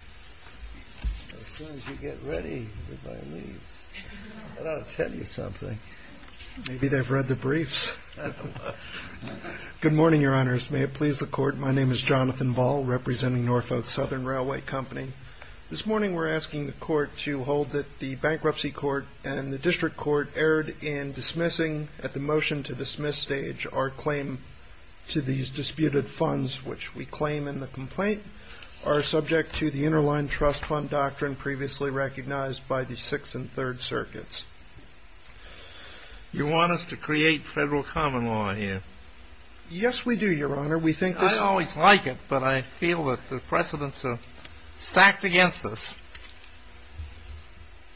As soon as you get ready, everybody leaves. I ought to tell you something. Maybe they've read the briefs. I don't know. Good morning, Your Honors. May it please the Court. My name is Jonathan Ball, representing Norfolk Southern Railway Company. This morning we're asking the Court to hold that the Bankruptcy Court and the District Court erred in dismissing, at the motion to dismiss stage, our claim to these disputed funds, which we claim in the complaint, are subject to the Interline Trust Fund Doctrine, previously recognized by the Sixth and Third Circuits. You want us to create federal common law here? Yes, we do, Your Honor. I always like it, but I feel that the precedents are stacked against us.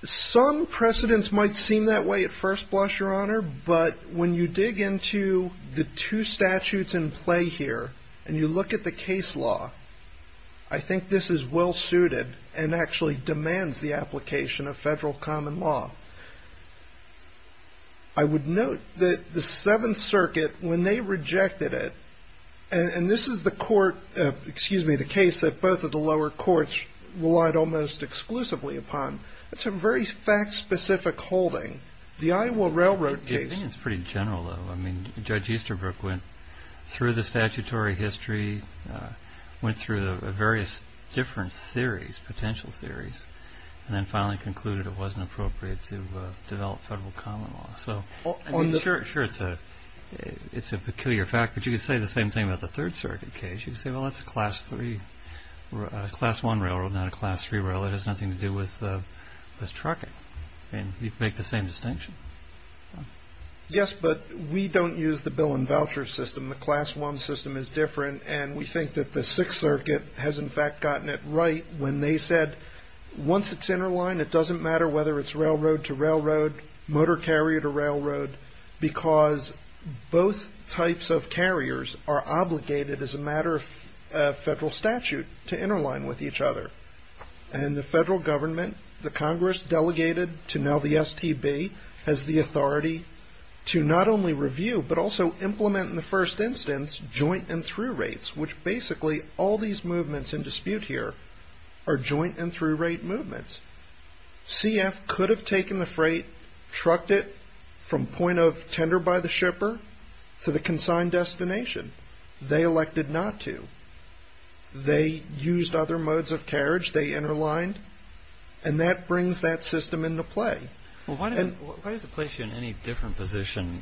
Some precedents might seem that way at first blush, Your Honor, but when you dig into the two statutes in play here, and you look at the case law, I think this is well-suited and actually demands the application of federal common law. I would note that the Seventh Circuit, when they rejected it, and this is the case that both of the lower courts relied almost exclusively upon. It's a very fact-specific holding. The Iowa Railroad case... I think it's pretty general, though. Judge Easterbrook went through the statutory history, went through the various different theories, potential theories, and then finally concluded it wasn't appropriate to develop federal common law. Sure, it's a peculiar fact, but you could say the same thing about the Third Circuit case. You could say, well, that's a Class I railroad, not a Class III railroad. It has nothing to do with trucking. You can make the same distinction. Yes, but we don't use the bill and voucher system. The Class I system is different, and we think that the Sixth Circuit has, in fact, gotten it right when they said once it's interlined, it doesn't matter whether it's railroad to railroad, motor carrier to railroad, because both types of carriers are obligated, as a matter of federal statute, to interline with each other. In the federal government, the Congress delegated to now the STB as the authority to not only review but also implement in the first instance joint and through rates, which basically all these movements in dispute here are joint and through rate movements. CF could have taken the freight, trucked it from point of tender by the shipper to the consigned destination. They elected not to. They used other modes of carriage. They interlined, and that brings that system into play. Well, why does it place you in any different position,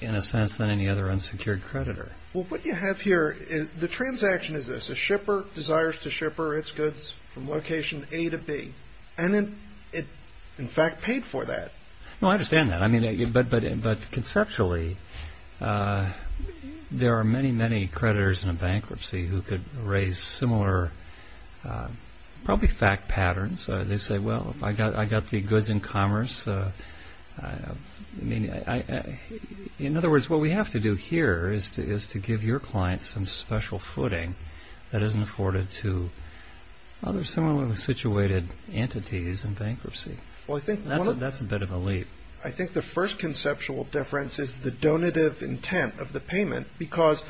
in a sense, than any other unsecured creditor? Well, what you have here is the transaction is this. A shipper desires to shipper its goods from location A to B, and it, in fact, paid for that. Well, I understand that, but conceptually, there are many, many creditors in a bankruptcy who could raise similar probably fact patterns. They say, well, I got the goods in commerce. In other words, what we have to do here is to give your clients some special footing that isn't afforded to other similarly situated entities in bankruptcy. That's a bit of a leap. I think the first conceptual difference is the donative intent of the payment, because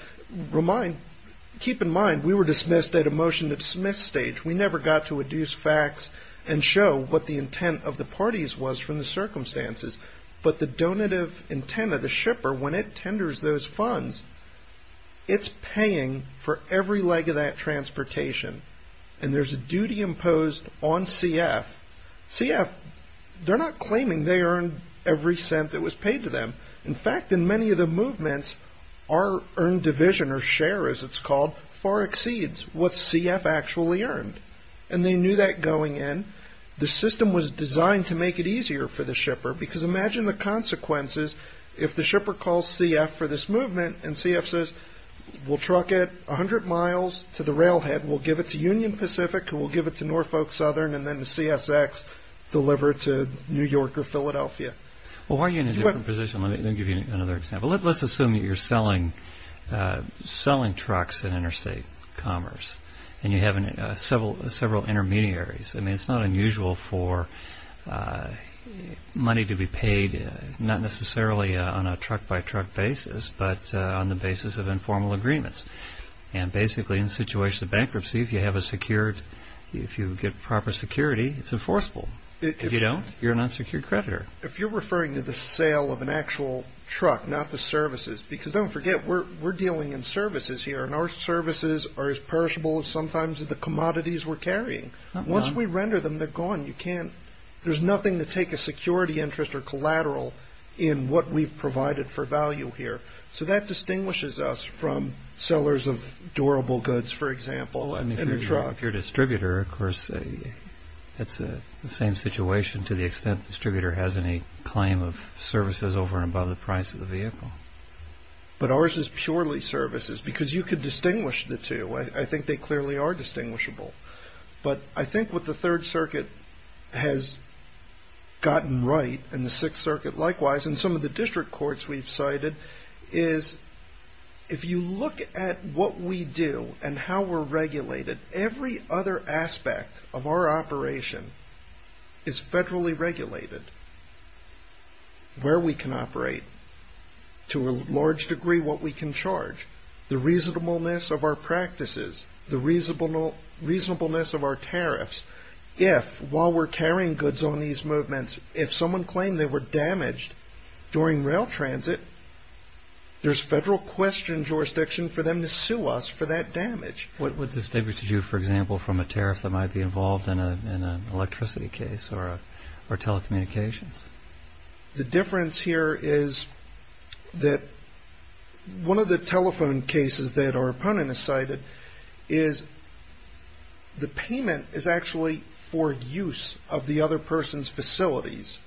keep in mind we were dismissed at a motion-to-dismiss stage. We never got to adduce facts and show what the intent of the parties was from the circumstances, but the donative intent of the shipper, when it tenders those funds, it's paying for every leg of that transportation, and there's a duty imposed on CF. CF, they're not claiming they earned every cent that was paid to them. In fact, in many of the movements, our earned division or share, as it's called, far exceeds what CF actually earned, and they knew that going in. The system was designed to make it easier for the shipper, because imagine the consequences if the shipper calls CF for this movement, and CF says, we'll truck it 100 miles to the railhead. We'll give it to Union Pacific, we'll give it to Norfolk Southern, and then the CSX deliver it to New York or Philadelphia. Well, why are you in a different position? Let me give you another example. Let's assume that you're selling trucks in interstate commerce, and you have several intermediaries. It's not unusual for money to be paid, not necessarily on a truck-by-truck basis, but on the basis of informal agreements. Basically, in the situation of bankruptcy, if you get proper security, it's enforceable. If you don't, you're an unsecured creditor. If you're referring to the sale of an actual truck, not the services, because don't forget, we're dealing in services here, and our services are as perishable as sometimes the commodities we're carrying. Once we render them, they're gone. There's nothing to take a security interest or collateral in what we've provided for value here. So that distinguishes us from sellers of durable goods, for example, in a truck. If you're a distributor, of course, it's the same situation to the extent the distributor has any claim of services over and above the price of the vehicle. But ours is purely services, because you could distinguish the two. I think they clearly are distinguishable. But I think what the Third Circuit has gotten right, and the Sixth Circuit likewise, and some of the district courts we've cited, is if you look at what we do and how we're regulated, every other aspect of our operation is federally regulated. Where we can operate, to a large degree what we can charge, the reasonableness of our practices, the reasonableness of our tariffs. If, while we're carrying goods on these movements, if someone claimed they were damaged during rail transit, there's federal question jurisdiction for them to sue us for that damage. What would this take you to do, for example, from a tariff that might be involved in an electricity case or telecommunications? The difference here is that one of the telephone cases that our opponent has cited is the payment is actually for use of the other person's facilities.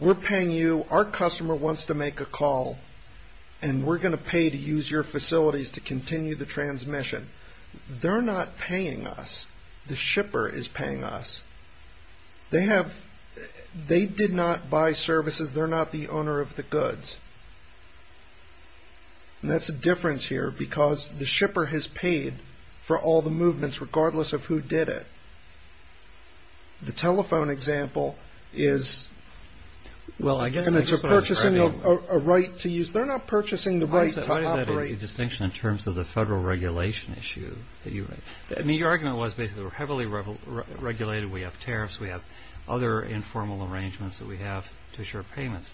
We're paying you, our customer wants to make a call, and we're going to pay to use your facilities to continue the transmission. They're not paying us, the shipper is paying us. They did not buy services, they're not the owner of the goods. That's a difference here because the shipper has paid for all the movements, regardless of who did it. The telephone example is purchasing a right to use, they're not purchasing the right to operate. Why is that a distinction in terms of the federal regulation issue? Your argument was basically we're heavily regulated, we have tariffs, we have other informal arrangements that we have to assure payments.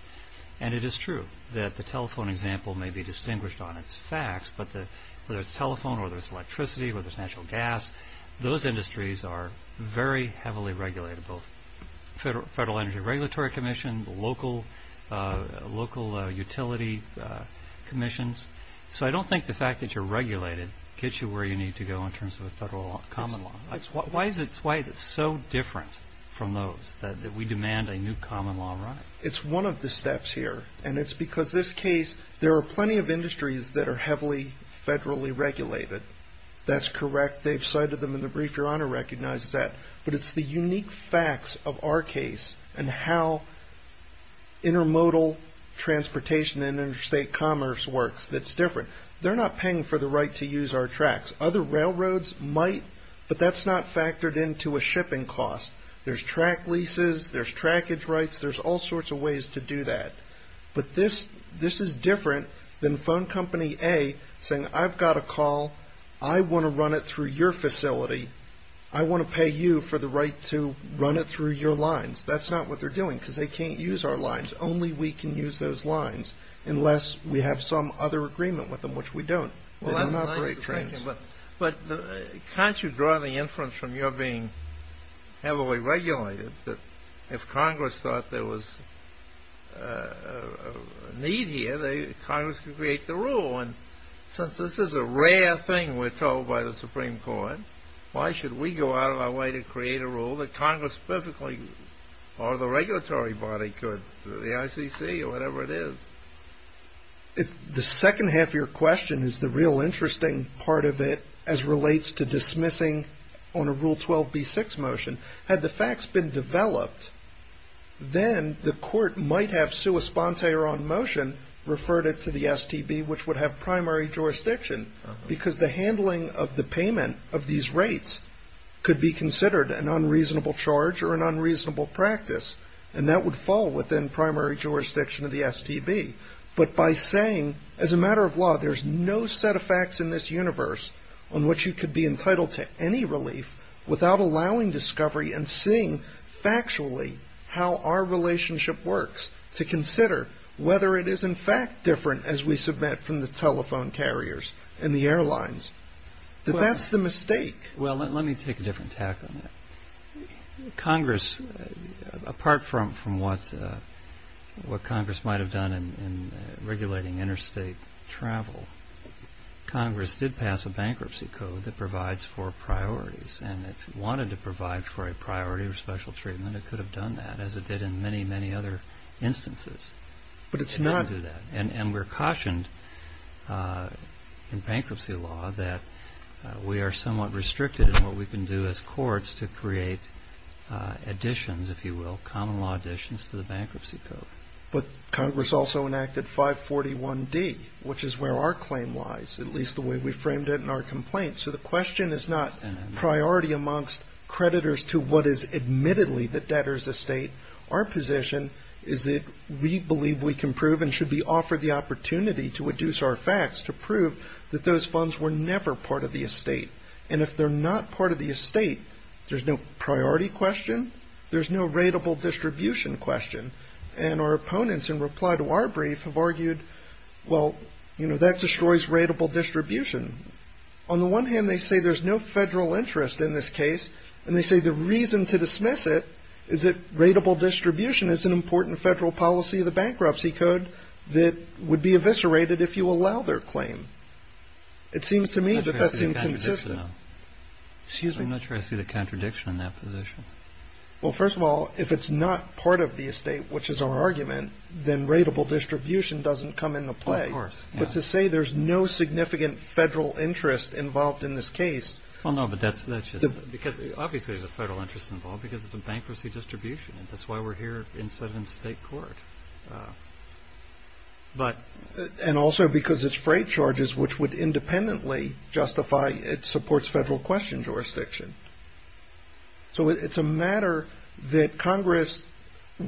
And it is true that the telephone example may be distinguished on its facts, but whether it's telephone or whether it's electricity or whether it's natural gas, those industries are very heavily regulated, both Federal Energy Regulatory Commission, local utility commissions. So I don't think the fact that you're regulated gets you where you need to go in terms of a federal common law. Why is it so different from those, that we demand a new common law right? It's one of the steps here, and it's because this case, there are plenty of industries that are heavily federally regulated. That's correct, they've cited them in the brief, Your Honor recognizes that. But it's the unique facts of our case and how intermodal transportation and interstate commerce works that's different. They're not paying for the right to use our tracks. Other railroads might, but that's not factored into a shipping cost. There's track leases, there's trackage rights, there's all sorts of ways to do that. But this is different than phone company A saying, I've got a call, I want to run it through your facility, I want to pay you for the right to run it through your lines. That's not what they're doing, because they can't use our lines. Only we can use those lines, unless we have some other agreement with them, which we don't. But can't you draw the inference from your being heavily regulated, that if Congress thought there was a need here, that Congress could create the rule? And since this is a rare thing we're told by the Supreme Court, why should we go out of our way to create a rule that Congress perfectly, or the regulatory body could, the ICC or whatever it is? The second half of your question is the real interesting part of it, as relates to dismissing on a Rule 12b-6 motion. Had the facts been developed, then the court might have sua sponte or on motion, referred it to the STB, which would have primary jurisdiction, because the handling of the payment of these rates could be considered an unreasonable charge or an unreasonable practice, and that would fall within primary jurisdiction of the STB. But by saying, as a matter of law, there's no set of facts in this universe on which you could be entitled to any relief, without allowing discovery and seeing factually how our relationship works, to consider whether it is in fact different as we submit from the telephone carriers and the airlines. That that's the mistake. Well, let me take a different tack on that. Congress, apart from what Congress might have done in regulating interstate travel, Congress did pass a bankruptcy code that provides for priorities, and if it wanted to provide for a priority or special treatment, it could have done that, as it did in many, many other instances. But it's not... in what we can do as courts to create additions, if you will, common law additions to the bankruptcy code. But Congress also enacted 541D, which is where our claim lies, at least the way we framed it in our complaint. So the question is not priority amongst creditors to what is admittedly the debtor's estate. Our position is that we believe we can prove and should be offered the opportunity to adduce our facts to prove that those funds were never part of the estate, and if they're not part of the estate, there's no priority question, there's no rateable distribution question. And our opponents in reply to our brief have argued, well, you know, that destroys rateable distribution. On the one hand, they say there's no federal interest in this case, and they say the reason to dismiss it is that rateable distribution is an important federal policy of the bankruptcy code that would be eviscerated if you allow their claim. It seems to me that that's inconsistent. Excuse me, I'm not sure I see the contradiction in that position. Well, first of all, if it's not part of the estate, which is our argument, then rateable distribution doesn't come into play. But to say there's no significant federal interest involved in this case... Well, no, but that's just... Obviously there's a federal interest involved because it's a bankruptcy distribution, and that's why we're here instead of in state court. And also because it's freight charges, which would independently justify it supports federal question jurisdiction. So it's a matter that Congress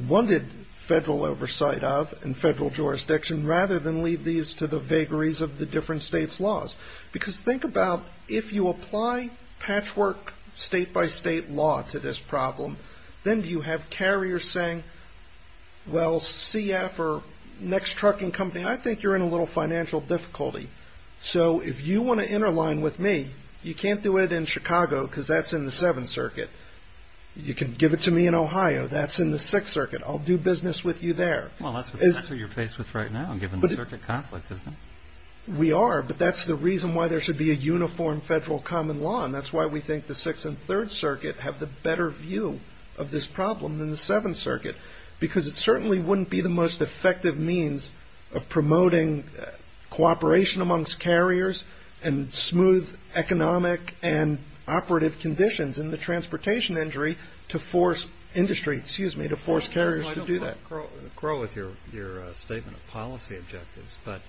wanted federal oversight of and federal jurisdiction, rather than leave these to the vagaries of the different states' laws. Because think about if you apply patchwork state-by-state law to this problem, then do you have carriers saying, well, CF or next trucking company, I think you're in a little financial difficulty. So if you want to interline with me, you can't do it in Chicago because that's in the Seventh Circuit. You can give it to me in Ohio. That's in the Sixth Circuit. I'll do business with you there. Well, that's what you're faced with right now, given the circuit conflict, isn't it? We are, but that's the reason why there should be a uniform federal common law, and that's why we think the Sixth and Third Circuit have the better view of this problem than the Seventh Circuit, because it certainly wouldn't be the most effective means of promoting cooperation amongst carriers and smooth economic and operative conditions in the transportation industry to force carriers to do that. I don't grow with your statement of policy objectives, but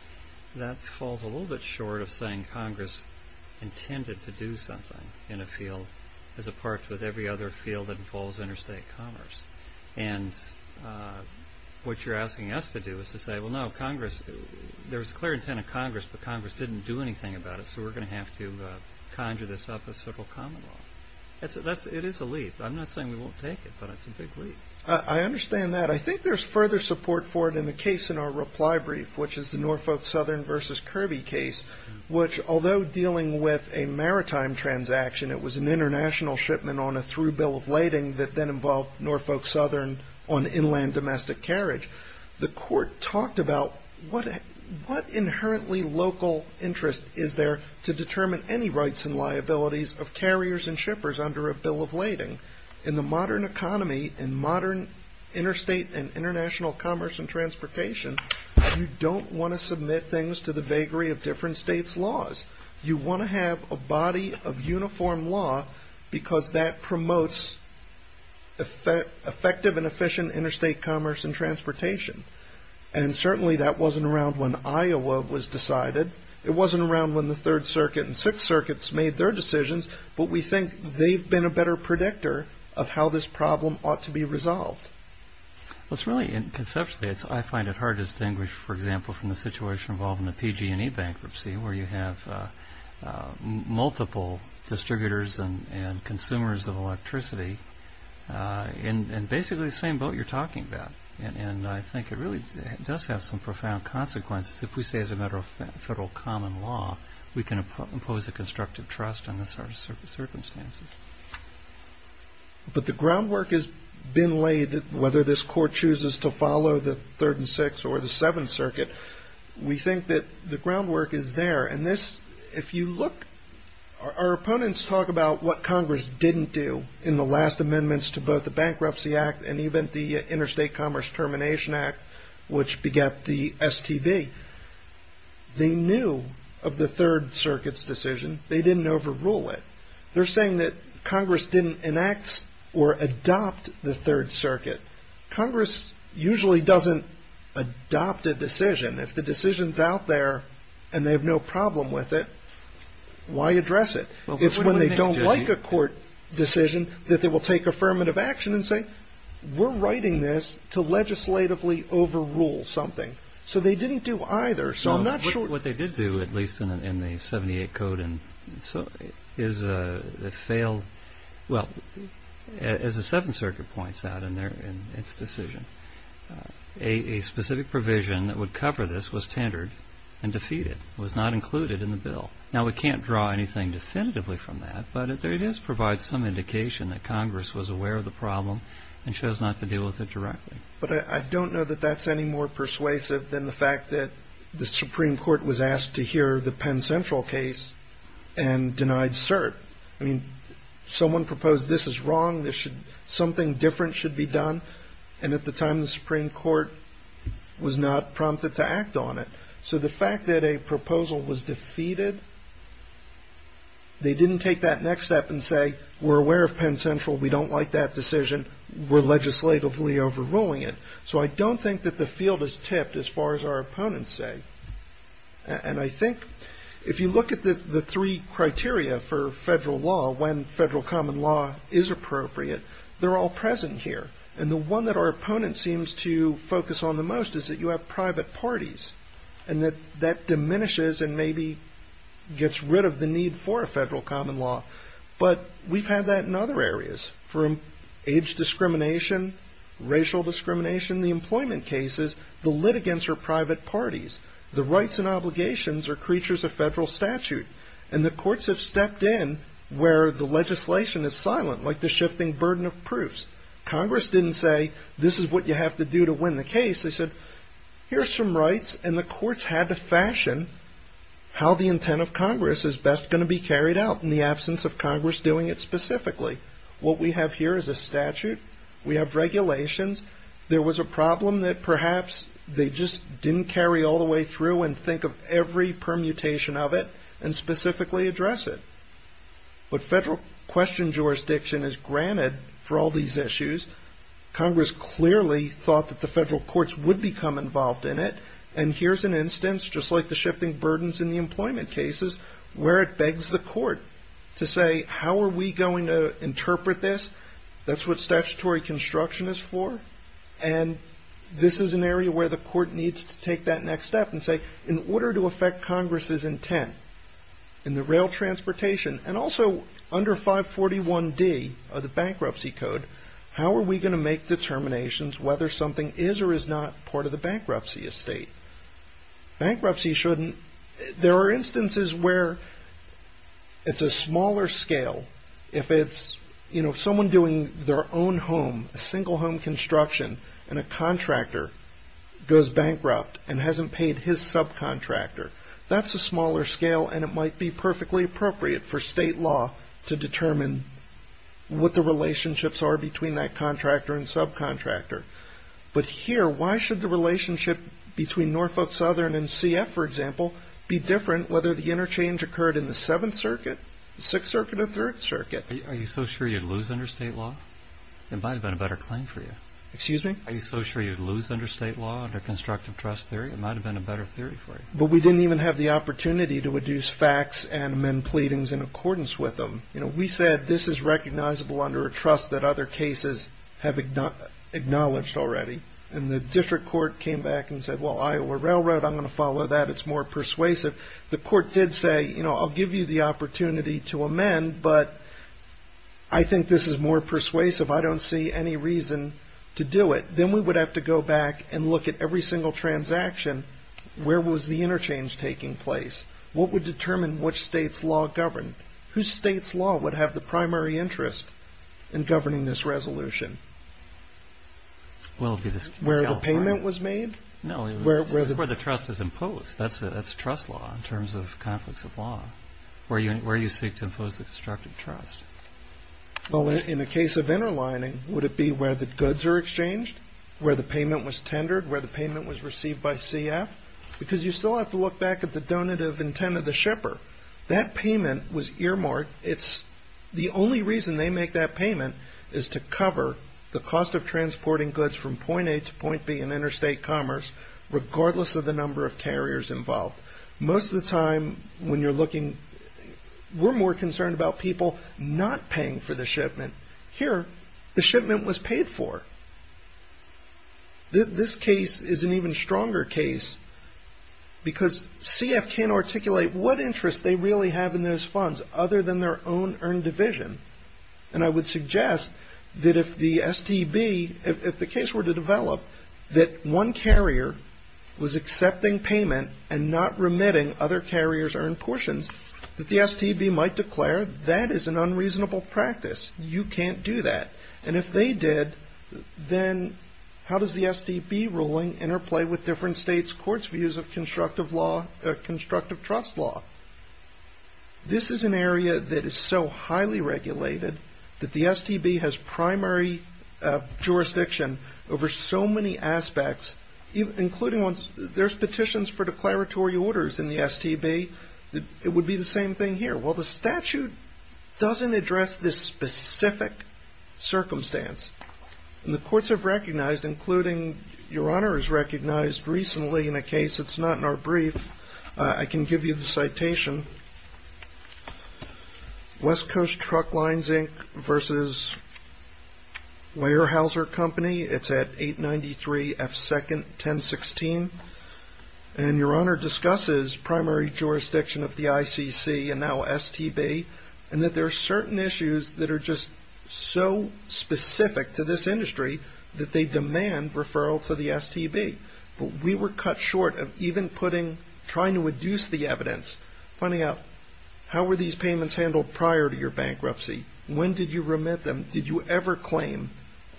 that falls a little bit short of saying Congress intended to do something in a field as a part with every other field that involves interstate commerce. And what you're asking us to do is to say, well, no, there was a clear intent of Congress, but Congress didn't do anything about it, so we're going to have to conjure this up as federal common law. It is a leap. I'm not saying we won't take it, but it's a big leap. I understand that. I think there's further support for it in the case in our reply brief, which is the Norfolk Southern v. Kirby case, which although dealing with a maritime transaction, it was an international shipment on a through bill of lading that then involved Norfolk Southern on inland domestic carriage. The court talked about what inherently local interest is there to determine any rights and liabilities of carriers and shippers under a bill of lading. In the modern economy, in modern interstate and international commerce and transportation, you don't want to submit things to the vagary of different states' laws. You want to have a body of uniform law because that promotes effective and efficient interstate commerce and transportation. And certainly that wasn't around when Iowa was decided. It wasn't around when the Third Circuit and Sixth Circuits made their decisions, but we think they've been a better predictor of how this problem ought to be resolved. Well, it's really, conceptually, I find it hard to distinguish, for example, from the situation involving the PG&E bankruptcy where you have multiple distributors and consumers of electricity in basically the same boat you're talking about. And I think it really does have some profound consequences if we say as a matter of federal common law we can impose a constructive trust on the circumstances. But the groundwork has been laid, whether this court chooses to follow the Third and Sixth or the Seventh Circuit, we think that the groundwork is there. And if you look, our opponents talk about what Congress didn't do in the last amendments to both the Bankruptcy Act and even the Interstate Commerce Termination Act, which begat the STB. They knew of the Third Circuit's decision. They didn't overrule it. They're saying that Congress didn't enact or adopt the Third Circuit. Congress usually doesn't adopt a decision. If the decision's out there and they have no problem with it, why address it? It's when they don't like a court decision that they will take affirmative action and say, we're writing this to legislatively overrule something. So they didn't do either. What they did do, at least in the 78 code, is fail. Well, as the Seventh Circuit points out in its decision, a specific provision that would cover this was tendered and defeated. It was not included in the bill. Now, we can't draw anything definitively from that, but it does provide some indication that Congress was aware of the problem and chose not to deal with it directly. But I don't know that that's any more persuasive than the fact that the Supreme Court was asked to hear the Penn Central case and denied cert. I mean, someone proposed this is wrong, something different should be done. And at the time, the Supreme Court was not prompted to act on it. So the fact that a proposal was defeated, they didn't take that next step and say, we're aware of Penn Central, we don't like that decision, we're legislatively overruling it. So I don't think that the field is tipped as far as our opponents say. And I think if you look at the three criteria for federal law, when federal common law is appropriate, they're all present here. And the one that our opponent seems to focus on the most is that you have private parties and that that diminishes and maybe gets rid of the need for a federal common law. But we've had that in other areas, from age discrimination, racial discrimination, the employment cases, the litigants are private parties. The rights and obligations are creatures of federal statute. And the courts have stepped in where the legislation is silent, like the shifting burden of proofs. Congress didn't say, this is what you have to do to win the case. They said, here are some rights, and the courts had to fashion how the intent of Congress is best going to be carried out in the absence of Congress doing it specifically. What we have here is a statute, we have regulations. There was a problem that perhaps they just didn't carry all the way through and think of every permutation of it and specifically address it. But federal question jurisdiction is granted for all these issues. Congress clearly thought that the federal courts would become involved in it. And here's an instance, just like the shifting burdens in the employment cases, where it begs the court to say, how are we going to interpret this? That's what statutory construction is for. And this is an area where the court needs to take that next step and say, in order to affect Congress's intent in the rail transportation, and also under 541D of the bankruptcy code, how are we going to make determinations whether something is or is not part of the bankruptcy estate? There are instances where it's a smaller scale. If someone doing their own home, a single home construction, and a contractor goes bankrupt and hasn't paid his subcontractor, that's a smaller scale and it might be perfectly appropriate for state law to determine what the relationships are between that contractor and subcontractor. But here, why should the relationship between Norfolk Southern and CF, for example, be different whether the interchange occurred in the Seventh Circuit, the Sixth Circuit, or Third Circuit? Are you so sure you'd lose under state law? It might have been a better claim for you. Excuse me? Are you so sure you'd lose under state law, under constructive trust theory? It might have been a better theory for you. But we didn't even have the opportunity to reduce facts and amend pleadings in accordance with them. We said this is recognizable under a trust that other cases have acknowledged already. And the district court came back and said, well, Iowa Railroad, I'm going to follow that. It's more persuasive. The court did say, you know, I'll give you the opportunity to amend, but I think this is more persuasive. I don't see any reason to do it. Then we would have to go back and look at every single transaction. Where was the interchange taking place? What would determine which state's law governed? Whose state's law would have the primary interest in governing this resolution? Where the payment was made? No, where the trust is imposed. That's trust law in terms of conflicts of law, where you seek to impose the constructive trust. Well, in the case of interlining, would it be where the goods are exchanged, where the payment was tendered, where the payment was received by CF? Because you still have to look back at the donative intent of the shipper. That payment was earmarked. It's the only reason they make that payment is to cover the cost of transporting goods from point A to point B in interstate commerce, regardless of the number of carriers involved. Most of the time when you're looking, we're more concerned about people not paying for the shipment. Here, the shipment was paid for. This case is an even stronger case because CF can't articulate what interest they really have in those funds other than their own earned division, and I would suggest that if the STB, if the case were to develop that one carrier was accepting payment and not remitting other carriers' earned portions, that the STB might declare that is an unreasonable practice. You can't do that. If they did, then how does the STB ruling interplay with different states' courts' views of constructive trust law? This is an area that is so highly regulated that the STB has primary jurisdiction over so many aspects, including there's petitions for declaratory orders in the STB. It would be the same thing here. Well, the statute doesn't address this specific circumstance, and the courts have recognized, including Your Honor has recognized recently in a case that's not in our brief. I can give you the citation. West Coast Truck Lines, Inc. versus Weyerhaeuser Company. It's at 893 F2nd 1016, and Your Honor discusses primary jurisdiction of the ICC and now STB, and that there are certain issues that are just so specific to this industry that they demand referral to the STB. But we were cut short of even putting, trying to deduce the evidence, finding out how were these payments handled prior to your bankruptcy? When did you remit them? Did you ever claim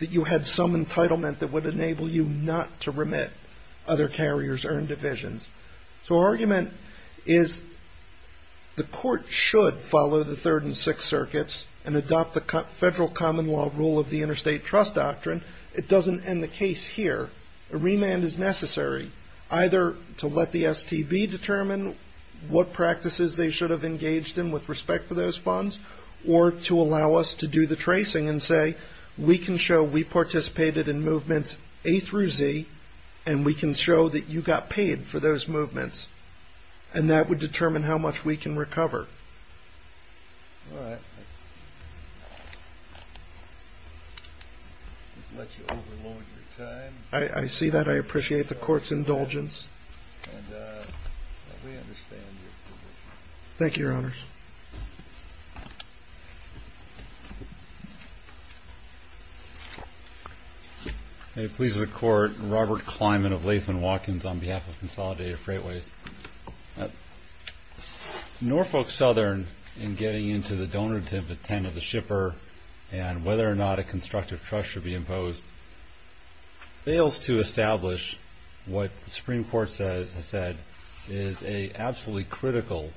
that you had some entitlement that would enable you not to remit other carriers' earned divisions? So our argument is the court should follow the Third and Sixth Circuits and adopt the federal common law rule of the interstate trust doctrine. It doesn't end the case here. A remand is necessary, either to let the STB determine what practices they should have engaged in with respect to those funds, or to allow us to do the tracing and say, we can show we participated in movements A through Z, and we can show that you got paid for those movements, and that would determine how much we can recover. All right. I won't let you overload your time. I see that. I appreciate the court's indulgence. And we understand your commitment. Thank you, Your Honors. May it please the Court, Robert Kleinman of Latham & Watkins on behalf of Consolidated Freightways. Norfolk Southern, in getting into the donative intent of the shipper and whether or not a constructive trust should be imposed, fails to establish what the Supreme Court has said is an absolutely critical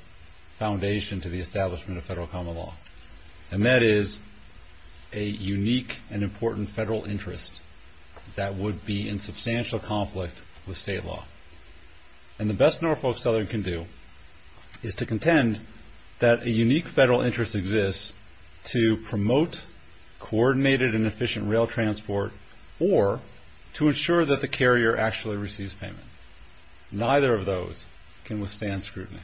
foundation to the establishment of federal common law, and that is a unique and important federal interest that would be in substantial conflict with state law. And the best Norfolk Southern can do is to contend that a unique federal interest exists to promote coordinated and efficient rail transport or to ensure that the carrier actually receives payment. Neither of those can withstand scrutiny.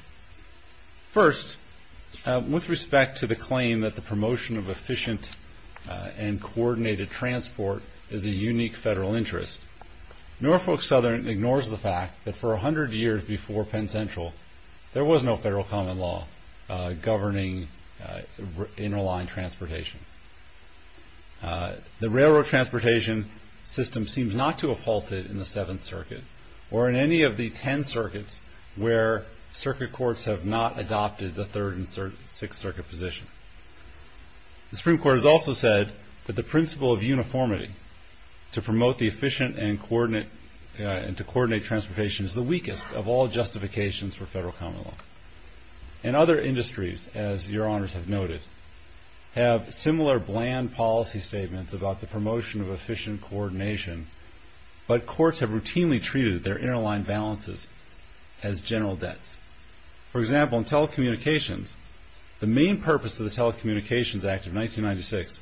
First, with respect to the claim that the promotion of efficient and coordinated transport is a unique federal interest, Norfolk Southern ignores the fact that for 100 years before Penn Central, there was no federal common law governing interline transportation. The railroad transportation system seems not to have halted in the Seventh Circuit or in any of the ten circuits where circuit courts have not adopted the Third and Sixth Circuit position. The Supreme Court has also said that the principle of uniformity to promote the efficient and to coordinate transportation is the weakest of all justifications for federal common law. And other industries, as your Honors have noted, have similar bland policy statements about the promotion of efficient coordination, but courts have routinely treated their interline balances as general debts. For example, in telecommunications, the main purpose of the Telecommunications Act of 1996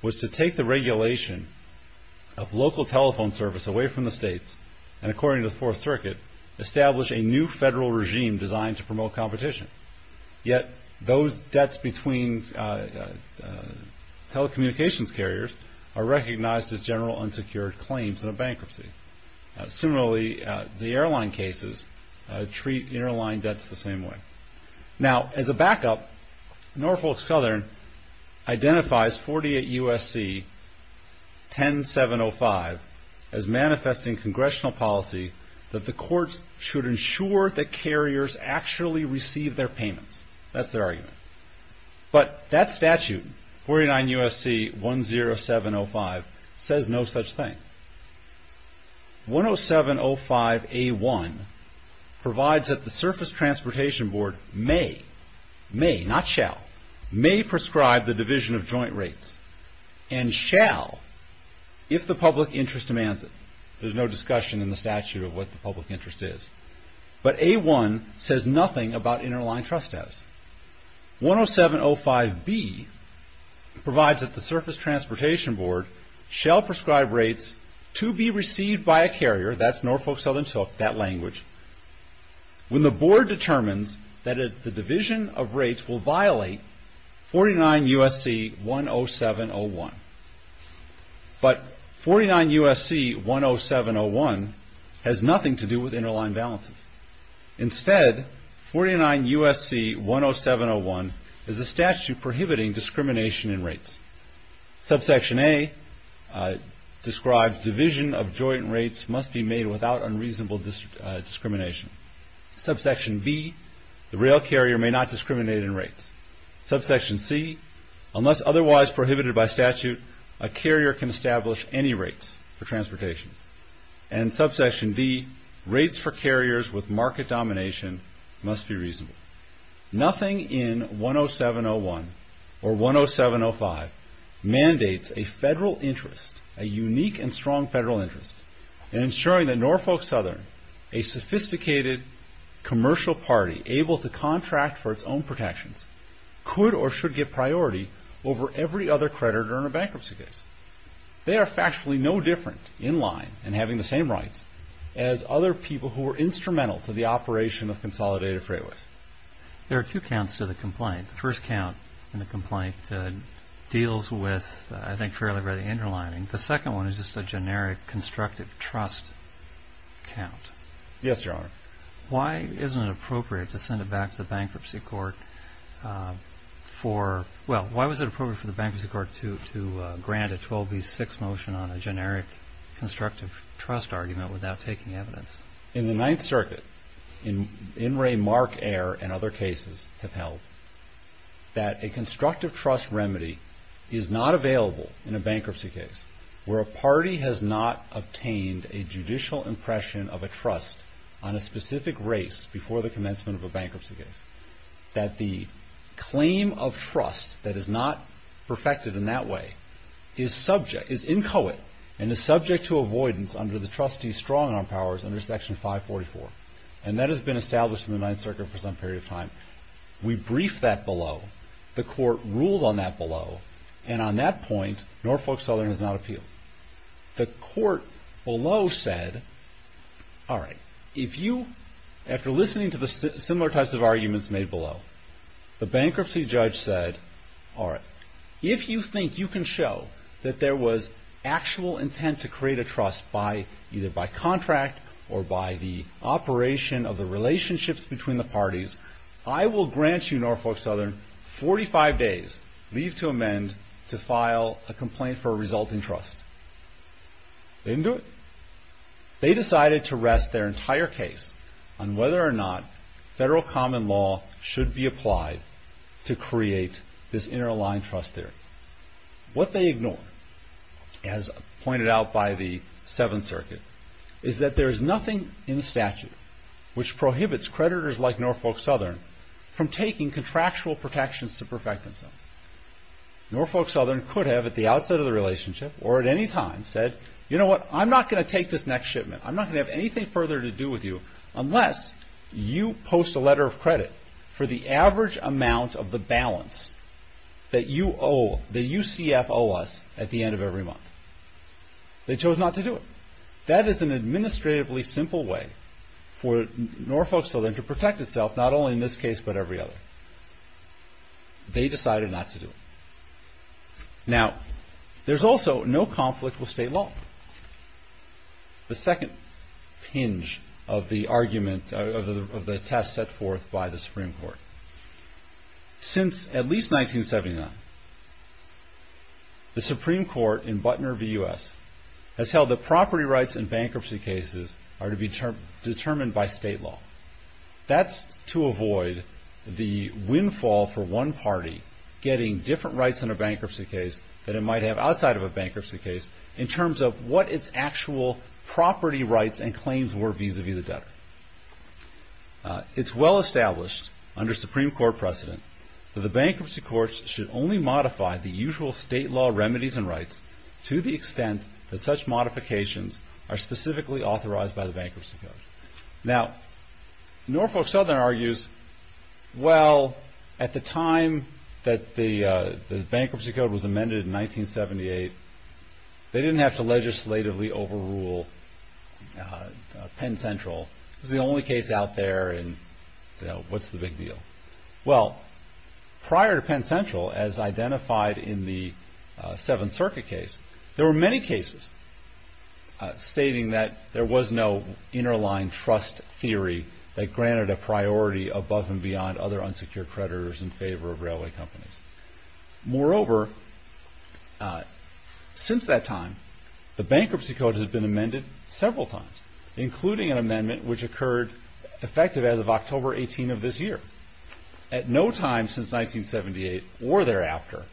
was to take the regulation of local telephone service away from the states and, according to the Fourth Circuit, establish a new federal regime designed to promote competition. Yet those debts between telecommunications carriers are recognized as general unsecured claims in a bankruptcy. Similarly, the airline cases treat interline debts the same way. Now, as a backup, Norfolk Southern identifies 48 U.S.C. 10705 as manifesting congressional policy that the courts should ensure that carriers actually receive their payments. That's their argument. But that statute, 49 U.S.C. 10705, says no such thing. 10705A1 provides that the Surface Transportation Board may, may not shall, may prescribe the division of joint rates and shall if the public interest demands it. There's no discussion in the statute of what the public interest is. But A1 says nothing about interline trust debts. 10705B provides that the Surface Transportation Board shall prescribe rates to be received by a carrier. That's Norfolk Southern's hook, that language. When the board determines that the division of rates will violate 49 U.S.C. 10701. But 49 U.S.C. 10701 has nothing to do with interline balances. Instead, 49 U.S.C. 10701 is a statute prohibiting discrimination in rates. Subsection A describes division of joint rates must be made without unreasonable discrimination. Subsection B, the rail carrier may not discriminate in rates. Subsection C, unless otherwise prohibited by statute, a carrier can establish any rates for transportation. And Subsection D, rates for carriers with market domination must be reasonable. Nothing in 10701 or 10705 mandates a federal interest, a unique and strong federal interest, in ensuring that Norfolk Southern, a sophisticated commercial party able to contract for its own protections, could or should get priority over every other creditor in a bankruptcy case. They are factually no different, in line and having the same rights, as other people who were instrumental to the operation of Consolidated Freightworth. There are two counts to the complaint. The first count in the complaint deals with, I think, fairly by the interlining. The second one is just a generic constructive trust count. Yes, Your Honor. Why isn't it appropriate to send it back to the Bankruptcy Court for – well, why was it appropriate for the Bankruptcy Court to grant a 12B6 motion on a generic constructive trust argument without taking evidence? In the Ninth Circuit, In re Mark Air and other cases have held that a constructive trust remedy is not available in a bankruptcy case where a party has not obtained a judicial impression of a trust on a specific race before the commencement of a bankruptcy case. That the claim of trust that is not perfected in that way is inchoate and is subject to avoidance under the trustee strong-arm powers under Section 544. And that has been established in the Ninth Circuit for some period of time. We briefed that below. The Court ruled on that below. And on that point, Norfolk Southern has not appealed. The Court below said, all right, if you – after listening to the similar types of arguments made below, the bankruptcy judge said, all right, if you think you can show that there was actual intent to create a trust by either by contract or by the operation of the relationships between the parties, I will grant you, Norfolk Southern, 45 days leave to amend to file a complaint for a resulting trust. They didn't do it. They decided to rest their entire case on whether or not federal common law should be applied to create this inter-aligned trust theory. What they ignore, as pointed out by the Seventh Circuit, is that there is nothing in the statute which prohibits creditors like Norfolk Southern from taking contractual protections to perfect themselves. Norfolk Southern could have at the outset of the relationship or at any time said, you know what, I'm not going to take this next shipment. I'm not going to have anything further to do with you unless you post a letter of credit for the average amount of the balance that you owe, that UCF owes us at the end of every month. They chose not to do it. That is an administratively simple way for Norfolk Southern to protect itself, not only in this case but every other. They decided not to do it. Now, there's also no conflict with state law. The second hinge of the argument, of the test set forth by the Supreme Court. Since at least 1979, the Supreme Court in Butner v. U.S. has held that property rights in bankruptcy cases are to be determined by state law. That's to avoid the windfall for one party getting different rights in a bankruptcy case than it might have outside of a bankruptcy case in terms of what its actual property rights and claims were vis-a-vis the debtor. It's well established under Supreme Court precedent that the bankruptcy courts should only modify the usual state law remedies and rights to the extent that such Now, Norfolk Southern argues, well, at the time that the bankruptcy code was amended in 1978, they didn't have to legislatively overrule Penn Central. It was the only case out there and what's the big deal? Well, prior to Penn Central, as identified in the Seventh Circuit case, there were many cases stating that there was no inner line trust theory that granted a priority above and beyond other unsecured creditors in favor of railway companies. Moreover, since that time, the bankruptcy code has been amended several times, including an amendment which occurred effective as of October 18 of this year. At no time since 1978 or thereafter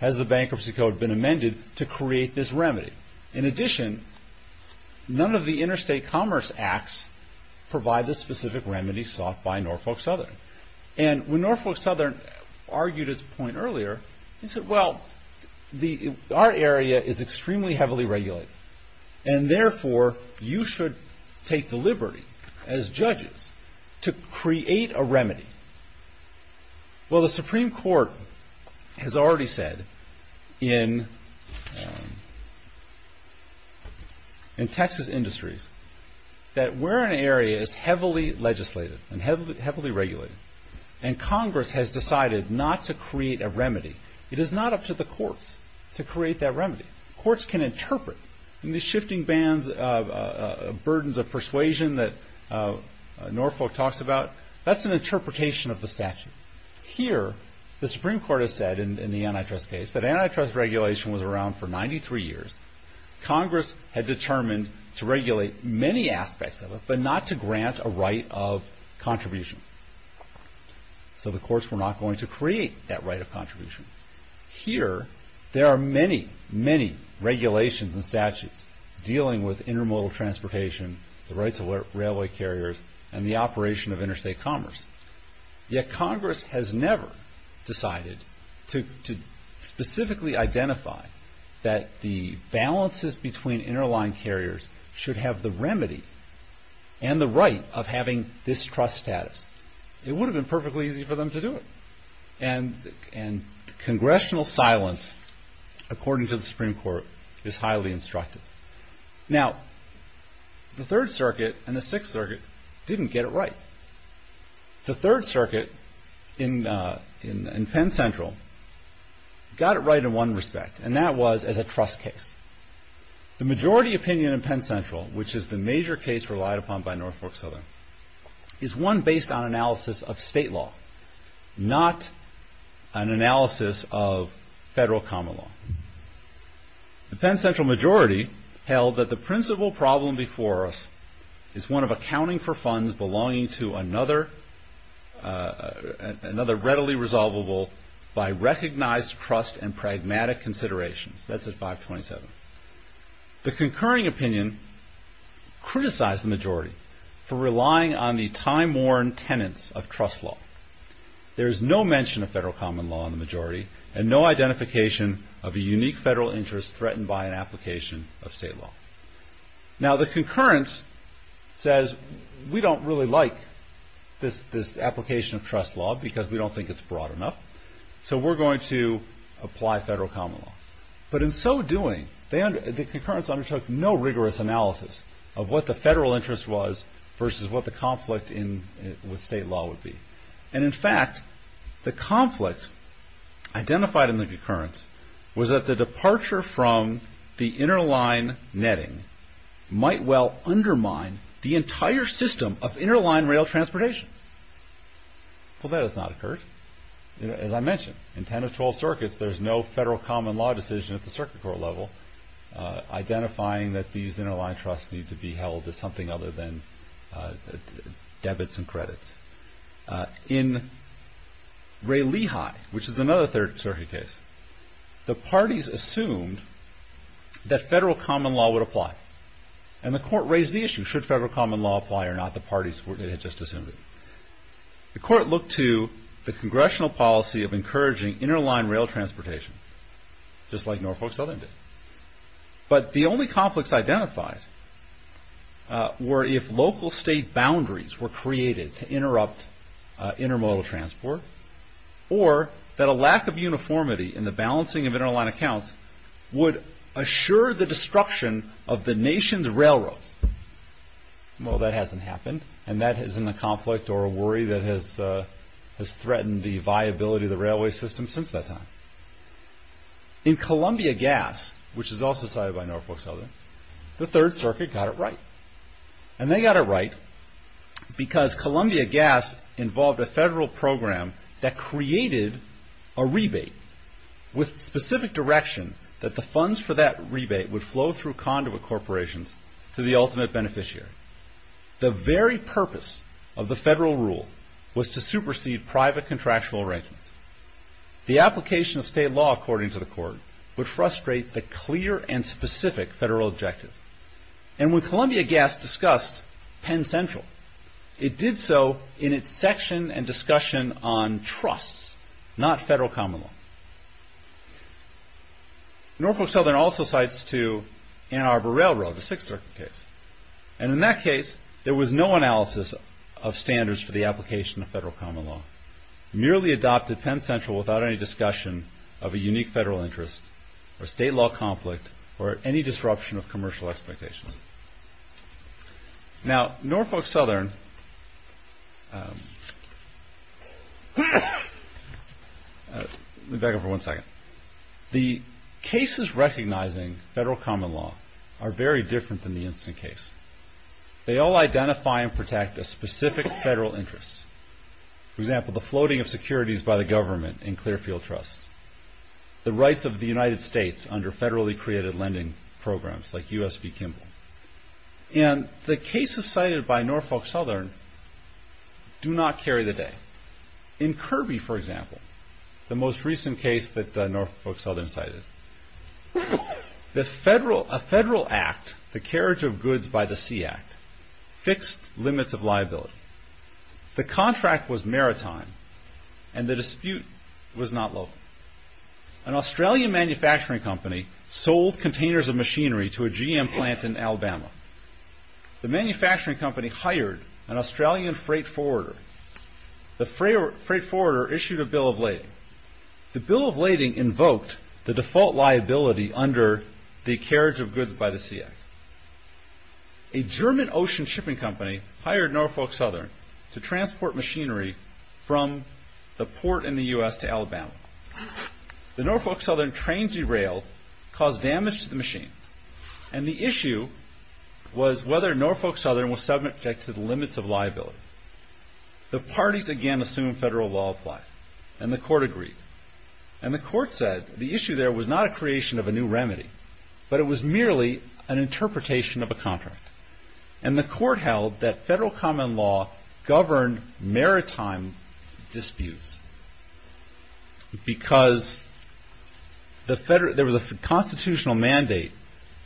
has the bankruptcy code been amended to create this remedy. In addition, none of the interstate commerce acts provide the specific remedies sought by Norfolk Southern. And when Norfolk Southern argued his point earlier, he said, well, our area is extremely heavily regulated and therefore you should take the liberty as judges to create a remedy. Well, the Supreme Court has already said in Texas Industries that where an area is heavily legislated and heavily regulated and Congress has decided not to create a remedy, it is not up to the courts to create that remedy. Courts can interpret. In the shifting bands of burdens of persuasion that Norfolk talks about, that's an interpretation of the statute. Here, the Supreme Court has said in the antitrust case that antitrust regulation was around for 93 years. Congress had determined to regulate many aspects of it but not to grant a right of contribution. So the courts were not going to create that right of contribution. Here, there are many, many regulations and statutes dealing with intermodal transportation, the rights of railway carriers, and the operation of interstate commerce. Yet Congress has never decided to specifically identify that the balances between interline carriers should have the remedy and the right of having this trust status. It would have been perfectly easy for them to do it. And congressional silence, according to the Supreme Court, is highly instructive. Now, the Third Circuit and the Sixth Circuit didn't get it right. The Third Circuit in Penn Central got it right in one respect and that was as a trust case. The majority opinion in Penn Central, which is the major case relied upon by Norfolk Southern, is one based on analysis of state law. Not an analysis of federal common law. The Penn Central majority held that the principal problem before us is one of accounting for funds belonging to another readily resolvable by recognized trust and pragmatic considerations. That's at 527. The concurring opinion criticized the majority for relying on the time-worn tenets of trust law. There's no mention of federal common law in the majority and no identification of a unique federal interest threatened by an application of state law. Now, the concurrence says we don't really like this application of trust law because we don't think it's broad enough, so we're going to apply federal common law. But in so doing, the concurrence undertook no rigorous analysis of what the federal interest was versus what the conflict with state law would be. And in fact, the conflict identified in the concurrence was that the departure from the interline netting might well undermine the entire system of interline rail transportation. Well, that has not occurred. As I mentioned, in 10 or 12 circuits, there's no federal common law decision at the circuit court level identifying that these interline trusts need to be held as something other than debits and credits. In Ray Lehigh, which is another circuit case, the parties assumed that federal common law would apply. And the court raised the issue, should federal common law apply or not? The parties had just assumed it. The court looked to the congressional policy of encouraging interline rail transportation, just like Norfolk Southern did. But the only conflicts identified were if local state boundaries were created to interrupt intermodal transport, or that a lack of uniformity in the balancing of interline accounts would assure the destruction of the nation's railroads. Well, that hasn't happened, and that isn't a conflict or a worry that has threatened the viability of the railway system since that time. In Columbia Gas, which is also cited by Norfolk Southern, the Third Circuit got it right. And they got it right because Columbia Gas involved a federal program that created a rebate with specific direction that the funds for that rebate would flow through conduit corporations to the ultimate beneficiary. The very purpose of the federal rule was to supersede private contractual arrangements. The application of state law, according to the court, would frustrate the clear and specific federal objective. And when Columbia Gas discussed Penn Central, it did so in its section and discussion on trusts, not federal common law. Norfolk Southern also cites, too, Ann Arbor Railroad, the Sixth Circuit case. And in that case, there was no analysis of standards for the application of federal common law. Merely adopted Penn Central without any discussion of a unique federal interest or state law conflict or any disruption of commercial expectations. Now, Norfolk Southern, let me back up for one second. The cases recognizing federal common law are very different than the instant case. They all identify and protect a specific federal interest. For example, the floating of securities by the government in Clearfield Trust. The rights of the United States under federally created lending programs like U.S.B. Kimball. And the cases cited by Norfolk Southern do not carry the day. In Kirby, for example, the most recent case that Norfolk Southern cited, a federal act, the Carriage of Goods by the Sea Act, fixed limits of liability. The contract was maritime and the dispute was not local. An Australian manufacturing company sold containers of machinery to a GM plant in Alabama. The manufacturing company hired an Australian freight forwarder. The freight forwarder issued a bill of lading. The bill of lading invoked the default liability under the Carriage of Goods by the Sea Act. A German ocean shipping company hired Norfolk Southern to transport machinery from the port in the U.S. to Alabama. The Norfolk Southern train derailed, caused damage to the machine, and the issue was whether Norfolk Southern was subject to the limits of liability. The parties again assumed federal law apply, and the court agreed. And the court said the issue there was not a creation of a new remedy, but it was merely an interpretation of a contract. And the court held that federal common law governed maritime disputes because there was a constitutional mandate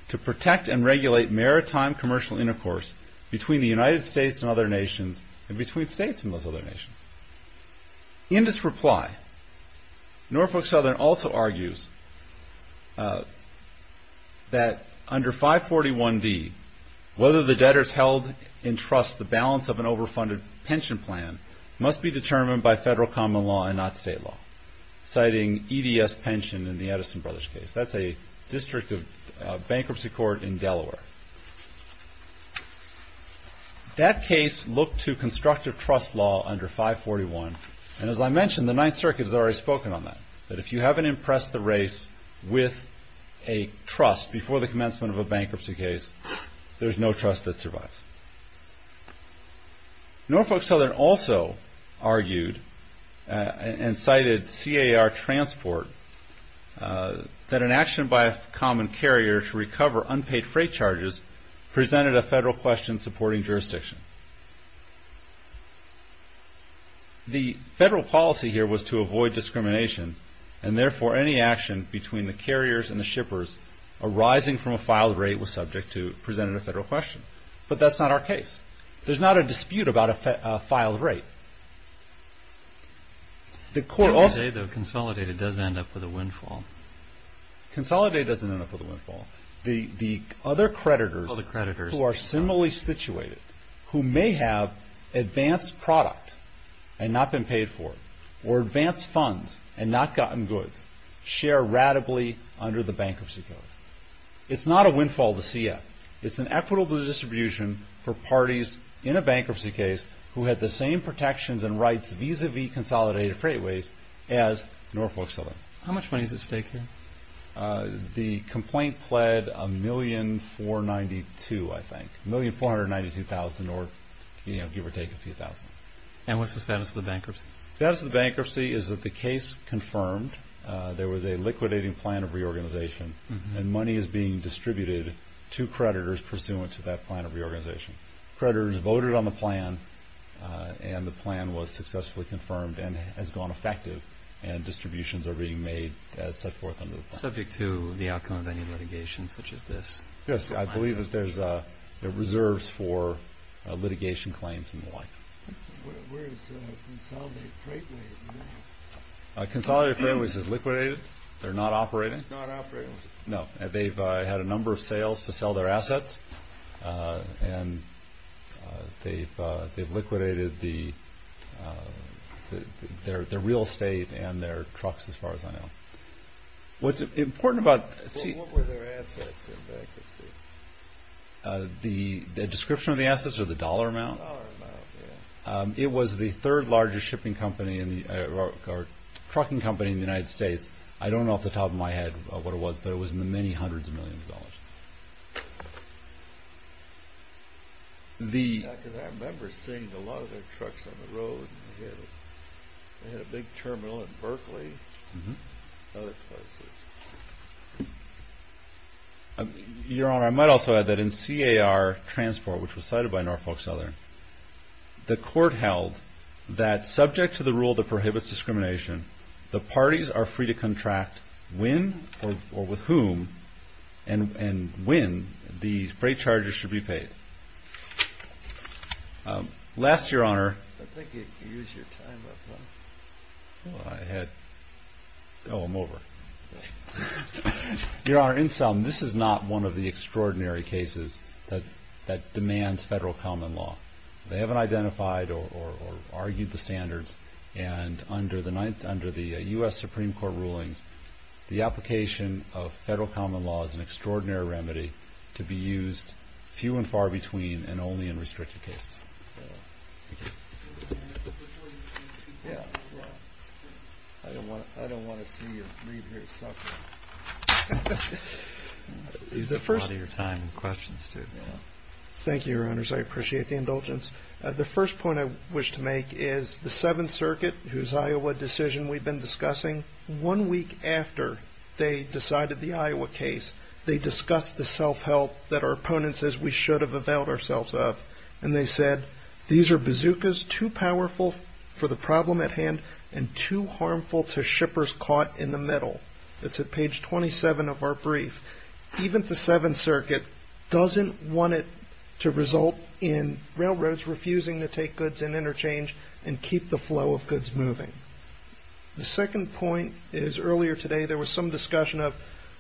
to protect and regulate maritime commercial intercourse between the United States and other nations and between states and those other nations. In this reply, Norfolk Southern also argues that under 541V, whether the debtors held in trust the balance of an overfunded pension plan must be determined by federal common law and not state law, citing EDS pension in the Edison Brothers case. That case looked to constructive trust law under 541, and as I mentioned, the Ninth Circuit has already spoken on that, that if you haven't impressed the race with a trust before the commencement of a bankruptcy case, there's no trust that survives. Norfolk Southern also argued and cited CAR transport, that an action by a common carrier to recover unpaid freight charges presented a federal question supporting jurisdiction. The federal policy here was to avoid discrimination, and therefore any action between the carriers and the shippers arising from a filed rate was subject to presenting a federal question. But that's not our case. There's not a dispute about a filed rate. Consolidated does end up with a windfall. Consolidated doesn't end up with a windfall. The other creditors who are similarly situated, who may have advanced product and not been paid for, or advanced funds and not gotten goods, share ratably under the bankruptcy code. It's not a windfall to CF. It's an equitable distribution for parties in a bankruptcy case who had the same protections and rights vis-a-vis consolidated freight ways as Norfolk Southern. How much money is at stake here? The complaint pled $1,492,000, I think. $1,492,000 or give or take a few thousand. And what's the status of the bankruptcy? The status of the bankruptcy is that the case confirmed there was a liquidating plan of reorganization and money is being distributed to creditors pursuant to that plan of reorganization. Creditors voted on the plan, and the plan was successfully confirmed and has gone effective, and distributions are being made as set forth under the plan. Subject to the outcome of any litigation such as this? Yes, I believe there are reserves for litigation claims and the like. Where is Consolidated Freightways? Consolidated Freightways is liquidated. They're not operating. Not operating. No. They've had a number of sales to sell their assets, and they've liquidated their real estate and their trucks as far as I know. What's important about... What were their assets in bankruptcy? The description of the assets or the dollar amount? Dollar amount, yeah. It was the third largest trucking company in the United States. I don't know off the top of my head what it was, but it was in the many hundreds of millions of dollars. I remember seeing a lot of their trucks on the road. They had a big terminal in Berkeley and other places. Your Honor, I might also add that in CAR Transport, which was cited by Norfolk Southern, the court held that subject to the rule that prohibits discrimination, the parties are free to contract when or with whom and when the freight charges should be paid. Last, Your Honor... I think you used your time up. I had... Oh, I'm over. Your Honor, in sum, this is not one of the extraordinary cases that demands federal common law. They haven't identified or argued the standards, and under the U.S. Supreme Court rulings, the application of federal common law is an extraordinary remedy to be used few and far between and only in restricted cases. I don't want to see you leave here suffering. Use a lot of your time and questions, too. Thank you, Your Honors. I appreciate the indulgence. The first point I wish to make is the Seventh Circuit, whose Iowa decision we've been discussing, one week after they decided the Iowa case, they discussed the self-help that our opponents, as we should have availed ourselves of, and they said, these are bazookas too powerful for the problem at hand and too harmful to shippers caught in the middle. It's at page 27 of our brief. Even the Seventh Circuit doesn't want it to result in railroads refusing to take goods in interchange and keep the flow of goods moving. The second point is, earlier today, there was some discussion of,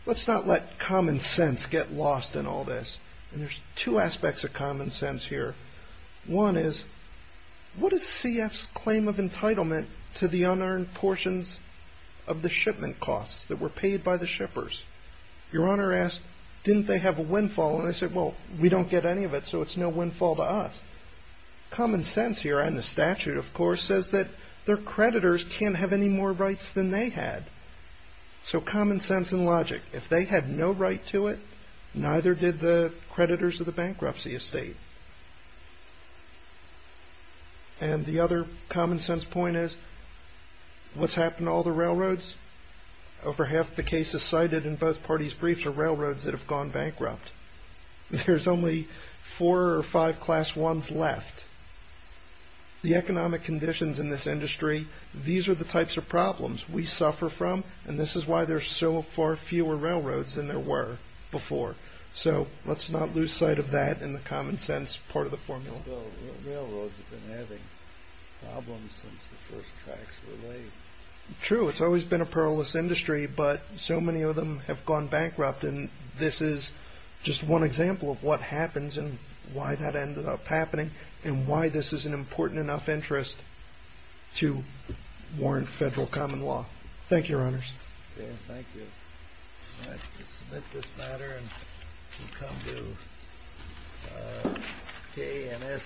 let's not let common sense get lost in all this, and there's two aspects of common sense here. One is, what is CF's claim of entitlement to the unearned portions of the shipment costs that were paid by the shippers? Your Honor asked, didn't they have a windfall? And they said, well, we don't get any of it, so it's no windfall to us. Common sense here, and the statute, of course, says that their creditors can't have any more rights than they had. So common sense and logic. If they had no right to it, neither did the creditors of the bankruptcy estate. And the other common sense point is, what's happened to all the railroads? Over half the cases cited in both parties' briefs are railroads that have gone bankrupt. There's only four or five class ones left. The economic conditions in this industry, these are the types of problems we suffer from, and this is why there are so far fewer railroads than there were before. So let's not lose sight of that in the common sense part of the formula. Well, railroads have been having problems since the first tracks were laid. True, it's always been a perilous industry, but so many of them have gone bankrupt, and this is just one example of what happens and why that ended up happening and why this is an important enough interest to warrant federal common law. Thank you, Your Honors. Thank you. I submit this matter and come to K&S.